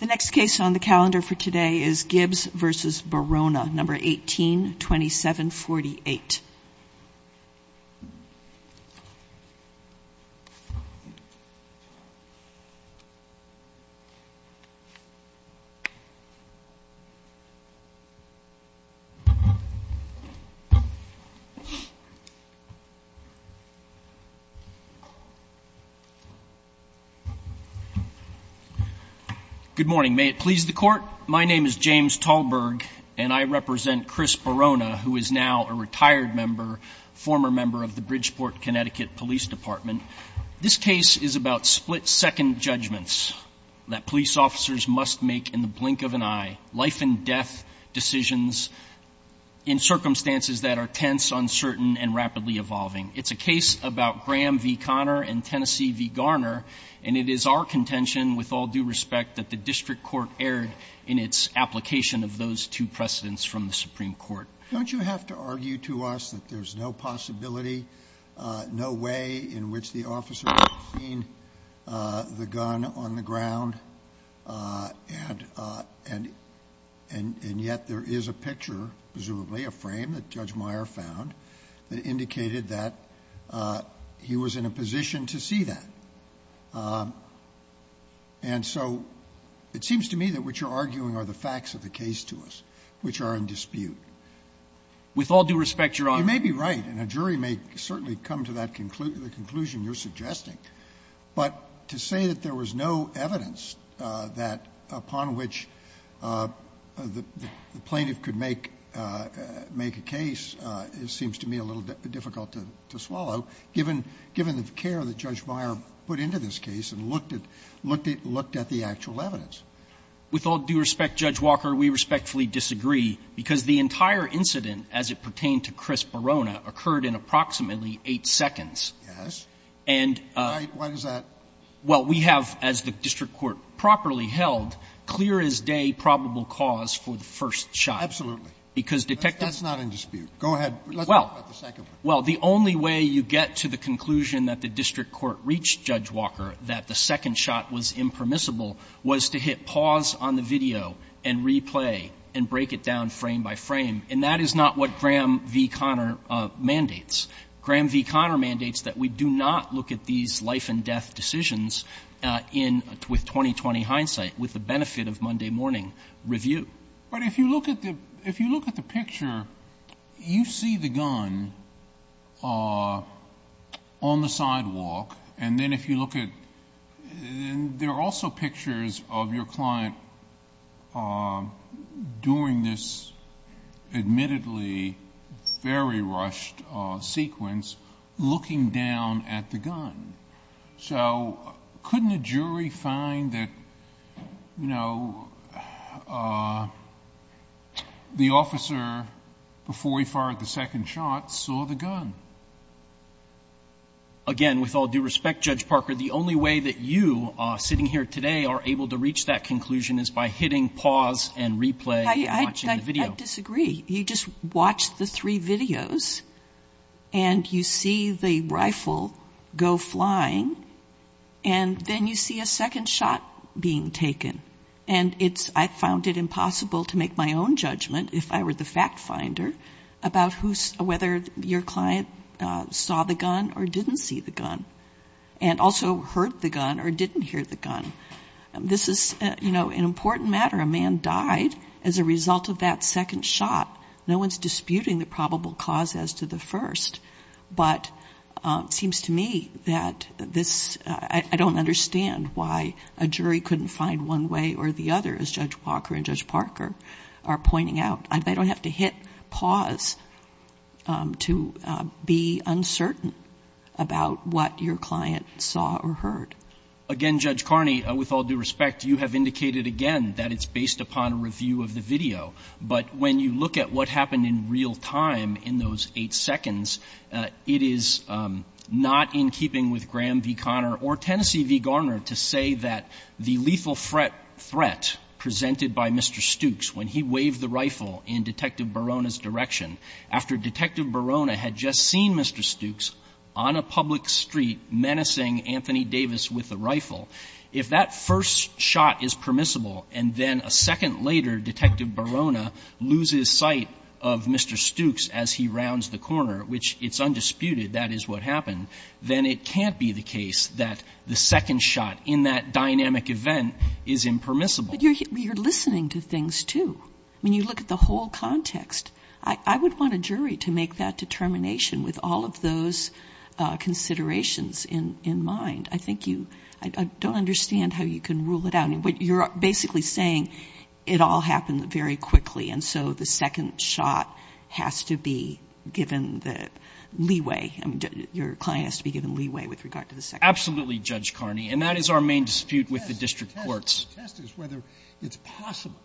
The next case on the calendar for today is Gibbs v. Barona, No. 18-2748. Good morning. May it please the Court, my name is James Talberg and I represent Chris Barona who is now a retired member, former member of the Bridgeport, Connecticut Police Department. This case is about split-second judgments that police officers must make in the blink of an eye, life and death decisions in circumstances that are tense, uncertain and rapidly evolving. It's a case about Graham v. Connor and Tennessee v. Garner and it is our contention, with all due respect, that the district court erred in its application of those two precedents from the Supreme Court. Sotomayor Don't you have to argue to us that there is no possibility, no way in which the officer has seen the gun on the ground and yet there is a picture, presumably a frame that Judge Meyer found that indicated that he was in a position to see that? And so it seems to me that what you're arguing are the facts of the case to us, which are in dispute. With all due respect, Your Honor You may be right and a jury may certainly come to that conclusion, the conclusion you're suggesting, but to say that there was no evidence that upon which the plaintiff could make a case seems to me a little difficult to swallow, given the care that Judge Meyer took to look at the actual evidence. With all due respect, Judge Walker, we respectfully disagree, because the entire incident as it pertained to Chris Barona occurred in approximately 8 seconds. Yes. And Why is that? Well, we have, as the district court properly held, clear as day probable cause for the first shot. Absolutely. Because, Detective That's not in dispute. Go ahead. Well, the only way you get to the conclusion that the district court reached Judge Meyer that the first shot was impermissible was to hit pause on the video and replay and break it down frame by frame, and that is not what Graham v. Conner mandates. Graham v. Conner mandates that we do not look at these life-and-death decisions in 2020 hindsight with the benefit of Monday morning review. But if you look at the picture, you see the gun on the sidewalk, and then if you look at it, there are also pictures of your client doing this admittedly very rushed sequence looking down at the gun. So couldn't a jury find that, you know, the officer, before he fired the second shot, saw the gun? Again, with all due respect, Judge Parker, the only way that you, sitting here today, are able to reach that conclusion is by hitting pause and replay and watching the video. I disagree. You just watch the three videos, and you see the rifle go flying, and then you see a second shot being taken. And I found it impossible to make my own judgment, if I were the fact finder, about whether your client saw the gun or didn't see the gun, and also heard the gun or didn't hear the gun. This is, you know, an important matter. A man died as a result of that second shot. No one's disputing the probable cause as to the first. But it seems to me that this, I don't understand why a jury couldn't find one way or the other, as Judge Walker and Judge Parker are pointing out. They don't have to hit pause to be uncertain about what your client saw or heard. Again, Judge Carney, with all due respect, you have indicated again that it's based upon a review of the video. But when you look at what happened in real time in those eight seconds, it is not in keeping with Graham v. Conner or Tennessee v. Garner to say that the lethal threat presented by Mr. Stooks, when he waved the rifle in Detective Barona's direction, after Detective Barona had just seen Mr. Stooks on a public street menacing Anthony Davis with a rifle. If that first shot is permissible and then a second later Detective Barona loses sight of Mr. Stooks as he rounds the corner, which it's undisputed that is what happened, then it can't be the case that the second shot in that dynamic event is impermissible. But you're listening to things, too. I mean, you look at the whole context. I would want a jury to make that determination with all of those considerations in mind. I think you — I don't understand how you can rule it out. You're basically saying it all happened very quickly, and so the second shot has to be given the leeway, I mean, your client has to be given leeway with regard to the second shot. Absolutely, Judge Carney. And that is our main dispute with the district courts. The question I'm trying to test is whether it's possible,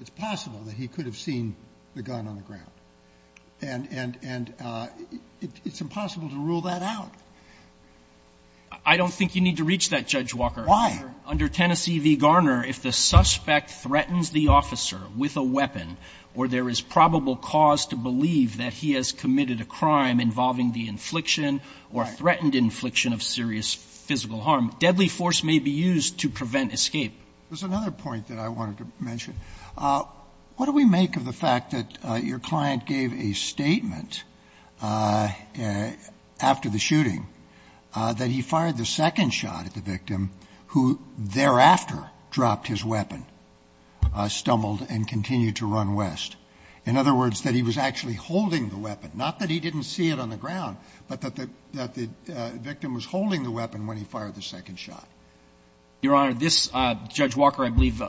it's possible that he could have seen the gun on the ground, and it's impossible to rule that out. I don't think you need to reach that, Judge Walker. Why? Under Tennessee v. Garner, if the suspect threatens the officer with a weapon or there is probable cause to believe that he has committed a crime involving the infliction or threatened infliction of serious physical harm, deadly force may be used to prevent escape. There's another point that I wanted to mention. What do we make of the fact that your client gave a statement after the shooting that he fired the second shot at the victim who thereafter dropped his weapon, stumbled, and continued to run west? In other words, that he was actually holding the weapon, not that he didn't see it on the ground, but that the victim was holding the weapon when he fired the second shot. Your Honor, this, Judge Walker, I believe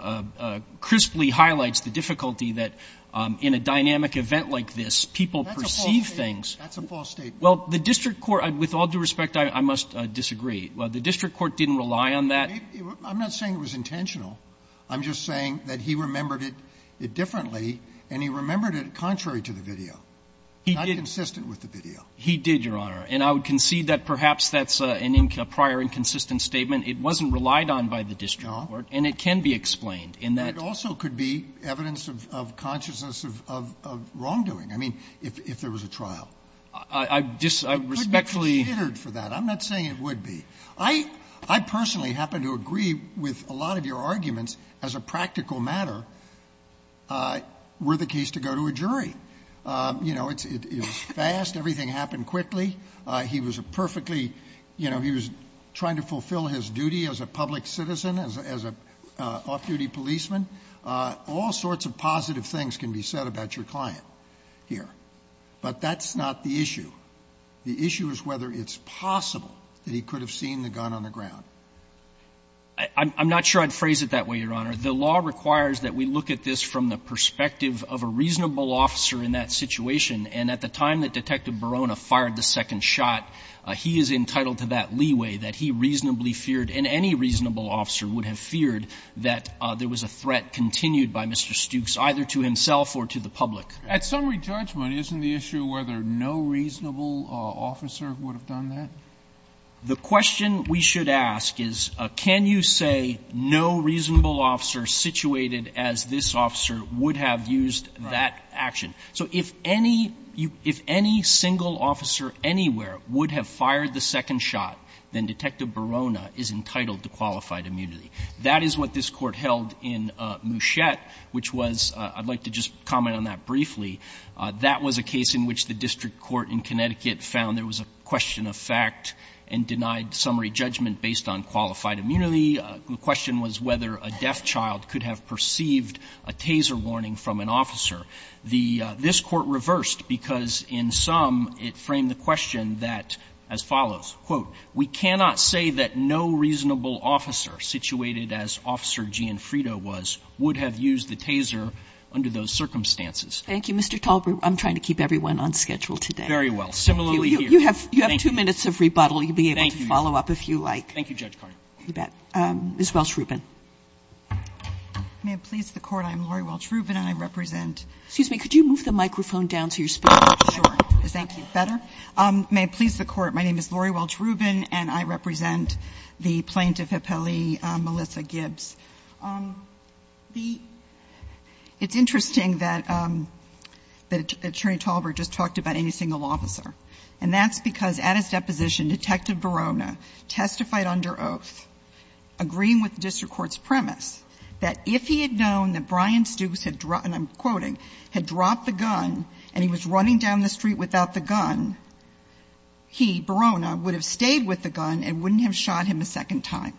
crisply highlights the difficulty that in a dynamic event like this, people perceive things. That's a false statement. Well, the district court, with all due respect, I must disagree. The district court didn't rely on that. I'm not saying it was intentional. I'm just saying that he remembered it differently, and he remembered it contrary to the video, not consistent with the video. He did, Your Honor. And I would concede that perhaps that's a prior inconsistent statement. It wasn't relied on by the district court, and it can be explained in that. But it also could be evidence of consciousness of wrongdoing. I mean, if there was a trial. I respectfully. I'm not saying it would be. I personally happen to agree with a lot of your arguments as a practical matter were the case to go to a jury. You know, it was fast. Everything happened quickly. He was a perfectly, you know, he was trying to fulfill his duty as a public citizen, as a off-duty policeman. All sorts of positive things can be said about your client here. But that's not the issue. The issue is whether it's possible that he could have seen the gun on the ground. I'm not sure I'd phrase it that way, Your Honor. The law requires that we look at this from the perspective of a reasonable officer in that situation, and at the time that Detective Barona fired the second shot, he is entitled to that leeway that he reasonably feared, and any reasonable officer would have feared, that there was a threat continued by Mr. Stukes, either to himself or to the public. At summary judgment, isn't the issue whether no reasonable officer would have done that? The question we should ask is, can you say no reasonable officer situated as this officer would have used that action? So if any single officer anywhere would have fired the second shot, then Detective Barona is entitled to qualified immunity. That is what this Court held in Muschiette, which was – I'd like to just comment on that briefly. That was a case in which the district court in Connecticut found there was a question of fact and denied summary judgment based on qualified immunity. The question was whether a deaf child could have perceived a taser warning from an officer. The – this Court reversed, because in sum, it framed the question that – as follows, quote, we cannot say that no reasonable officer situated as Officer Gianfrida was would have used the taser under those circumstances. Thank you, Mr. Talbert. I'm trying to keep everyone on schedule today. Very well. Similarly, here. You have two minutes of rebuttal. Thank you. You'll be able to follow up if you like. Thank you, Judge Cardone. You bet. Ms. Welch-Rubin. May it please the Court, I'm Lori Welch-Rubin and I represent – Excuse me. Could you move the microphone down to your speaker? Sure. Is that better? May it please the Court, my name is Lori Welch-Rubin and I represent the plaintiff appellee, Melissa Gibbs. The – it's interesting that Attorney Talbert just talked about any single officer, and that's because at his deposition, Detective Verona testified under oath, agreeing with the district court's premise, that if he had known that Brian Stooks had – and I'm quoting – had dropped the gun and he was running down the street without the gun, he, Verona, would have stayed with the gun and wouldn't have shot him a second time.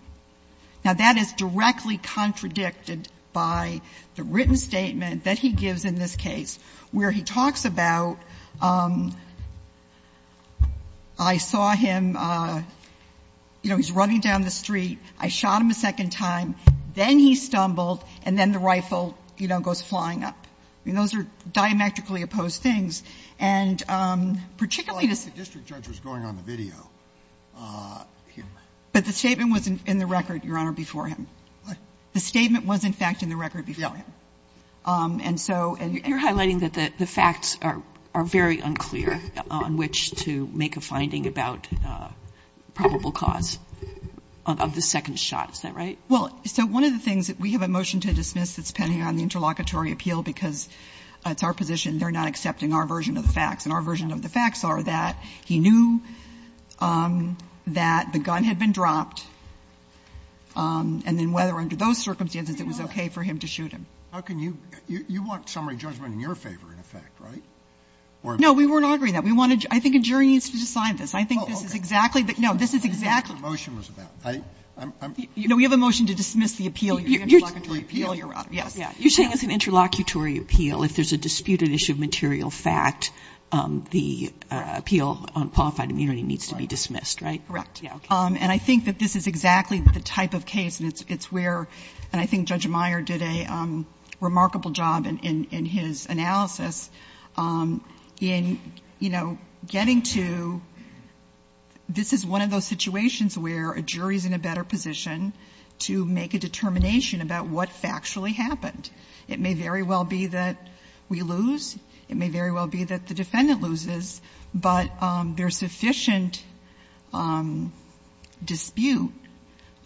Now, that is directly contradicted by the written statement that he gives in this case where he talks about, I saw him, you know, he's running down the street, I shot him a second time, then he stumbled and then the rifle, you know, goes flying up. I mean, those are diametrically opposed things. And particularly this – Well, I think the district judge was going on the video here. But the statement was in the record, Your Honor, before him. What? The statement was, in fact, in the record before him. Yeah. And so – You're highlighting that the facts are very unclear on which to make a finding about probable cause of the second shot. Is that right? Well, so one of the things that we have a motion to dismiss that's pending on the interlocutory appeal because it's our position they're not accepting our version of the facts. And our version of the facts are that he knew that the gun had been dropped and then whether under those circumstances it was okay for him to shoot him. How can you – you want summary judgment in your favor, in effect, right? No, we weren't arguing that. We wanted – I think a jury needs to decide this. I think this is exactly the – no, this is exactly – I don't know what your motion was about. I'm – No, we have a motion to dismiss the appeal, the interlocutory appeal, Your Honor. You're saying it's an interlocutory appeal. If there's a disputed issue of material fact, the appeal on qualified immunity needs to be dismissed, right? Correct. Yeah. Okay. And I think that this is exactly the type of case. And it's where – and I think Judge Meyer did a remarkable job in his analysis in, you know, getting to – this is one of those situations where a jury is in a better position to make a determination about what factually happened. It may very well be that we lose. It may very well be that the defendant loses. But there's sufficient dispute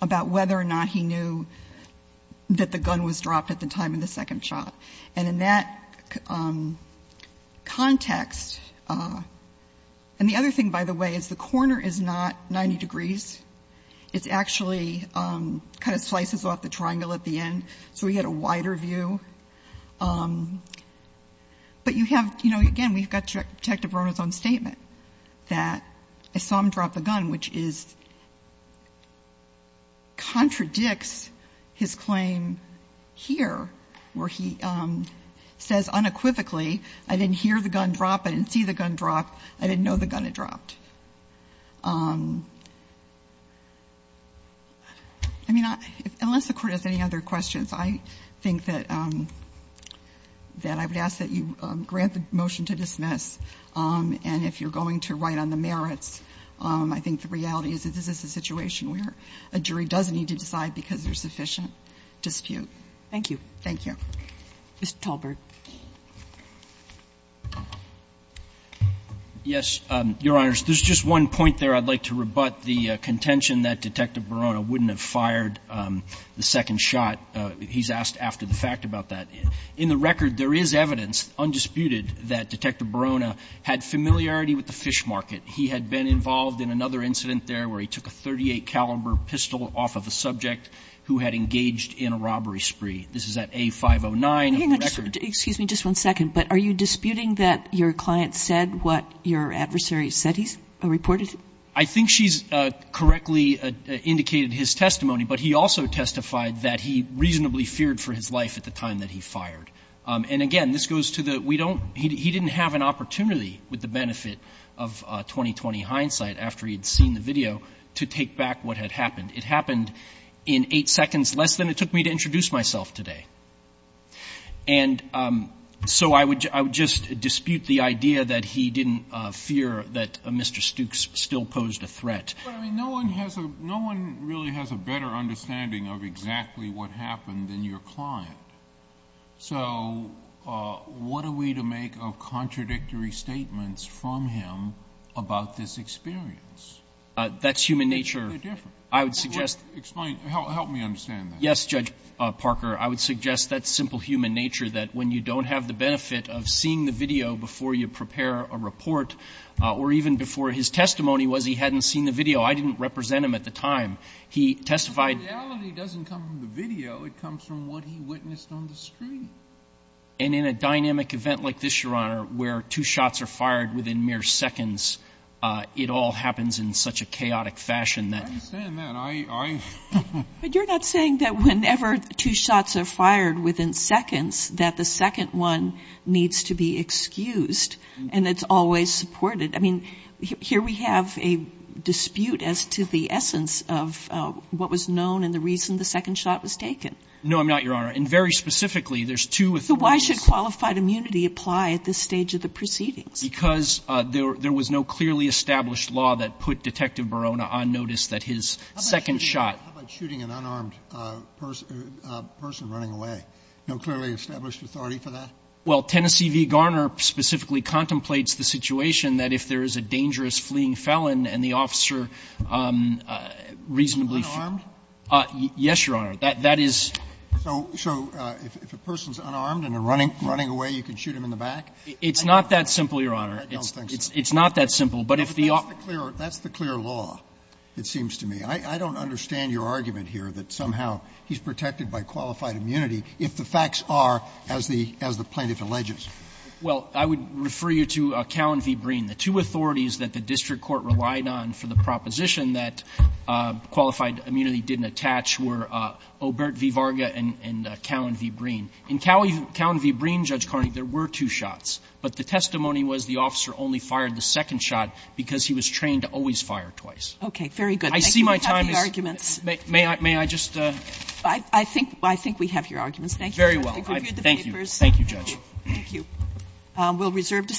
about whether or not he knew that the gun was dropped at the time of the second shot. And in that context – and the other thing, by the way, is the corner is not 90 degrees. It's actually kind of slices off the triangle at the end, so we get a wider view. But you have – you know, again, we've got Detective Rona's own statement that I saw him drop a gun, which is – contradicts his claim here, where he says unequivocally, I didn't hear the gun drop, I didn't see the gun drop, I didn't know the gun had dropped. I mean, unless the Court has any other questions, I think that I would ask that you take a look at this case and see whether or not you're going to write on the merits. I think the reality is that this is a situation where a jury does need to decide because there's sufficient dispute. Thank you. Thank you. Mr. Talbert. Yes, Your Honors. There's just one point there I'd like to rebut, the contention that Detective Rona had familiarity with the fish market. He had been involved in another incident there where he took a .38-caliber pistol off of a subject who had engaged in a robbery spree. This is at A-509 of the record. Excuse me just one second, but are you disputing that your client said what your adversary said he reported? I think she's correctly indicated his testimony, but he also testified that he reasonably feared for his life at the time that he fired. And again, this goes to the we don't he didn't have an opportunity with the benefit of 20-20 hindsight after he'd seen the video to take back what had happened. It happened in eight seconds less than it took me to introduce myself today. And so I would just dispute the idea that he didn't fear that Mr. Stooks still posed a threat. No one has a no one really has a better understanding of exactly what happened than your client. So what are we to make of contradictory statements from him about this experience? That's human nature. I would suggest explain help me understand that. Yes, Judge Parker. I would suggest that's simple human nature, that when you don't have the benefit of seeing the video before you prepare a report or even before his testimony was he hadn't seen the video. I didn't represent him at the time. He testified. The reality doesn't come from the video. It comes from what he witnessed on the screen. And in a dynamic event like this, Your Honor, where two shots are fired within mere seconds, it all happens in such a chaotic fashion that. I understand that. But you're not saying that whenever two shots are fired within seconds, that the second one needs to be excused and it's always supported. I mean, here we have a dispute as to the essence of what was known and the reason the second shot was taken. No, I'm not, Your Honor. And very specifically, there's two. So why should qualified immunity apply at this stage of the proceedings? Because there was no clearly established law that put Detective Barona on notice that his second shot. How about shooting an unarmed person running away? No clearly established authority for that? Well, Tennessee v. Garner specifically contemplates the situation that if there is a dangerous fleeing felon and the officer reasonably. Unarmed? Yes, Your Honor. That is. So if a person is unarmed and running away, you can shoot him in the back? It's not that simple, Your Honor. I don't think so. It's not that simple. But if the officer. But that's the clear law, it seems to me. I don't understand your argument here that somehow he's protected by qualified immunity if the facts are as the plaintiff alleges. Well, I would refer you to Cowan v. Breen. The two authorities that the district court relied on for the proposition that qualified immunity didn't attach were Obert v. Varga and Cowan v. Breen. In Cowan v. Breen, Judge Carney, there were two shots, but the testimony was the officer only fired the second shot because he was trained to always fire twice. Okay. Very good. I see my time is. Thank you for having the arguments. May I just? I think we have your arguments. Thank you. Very well. Thank you. Thank you, Judge. Thank you. We'll reserve the floor.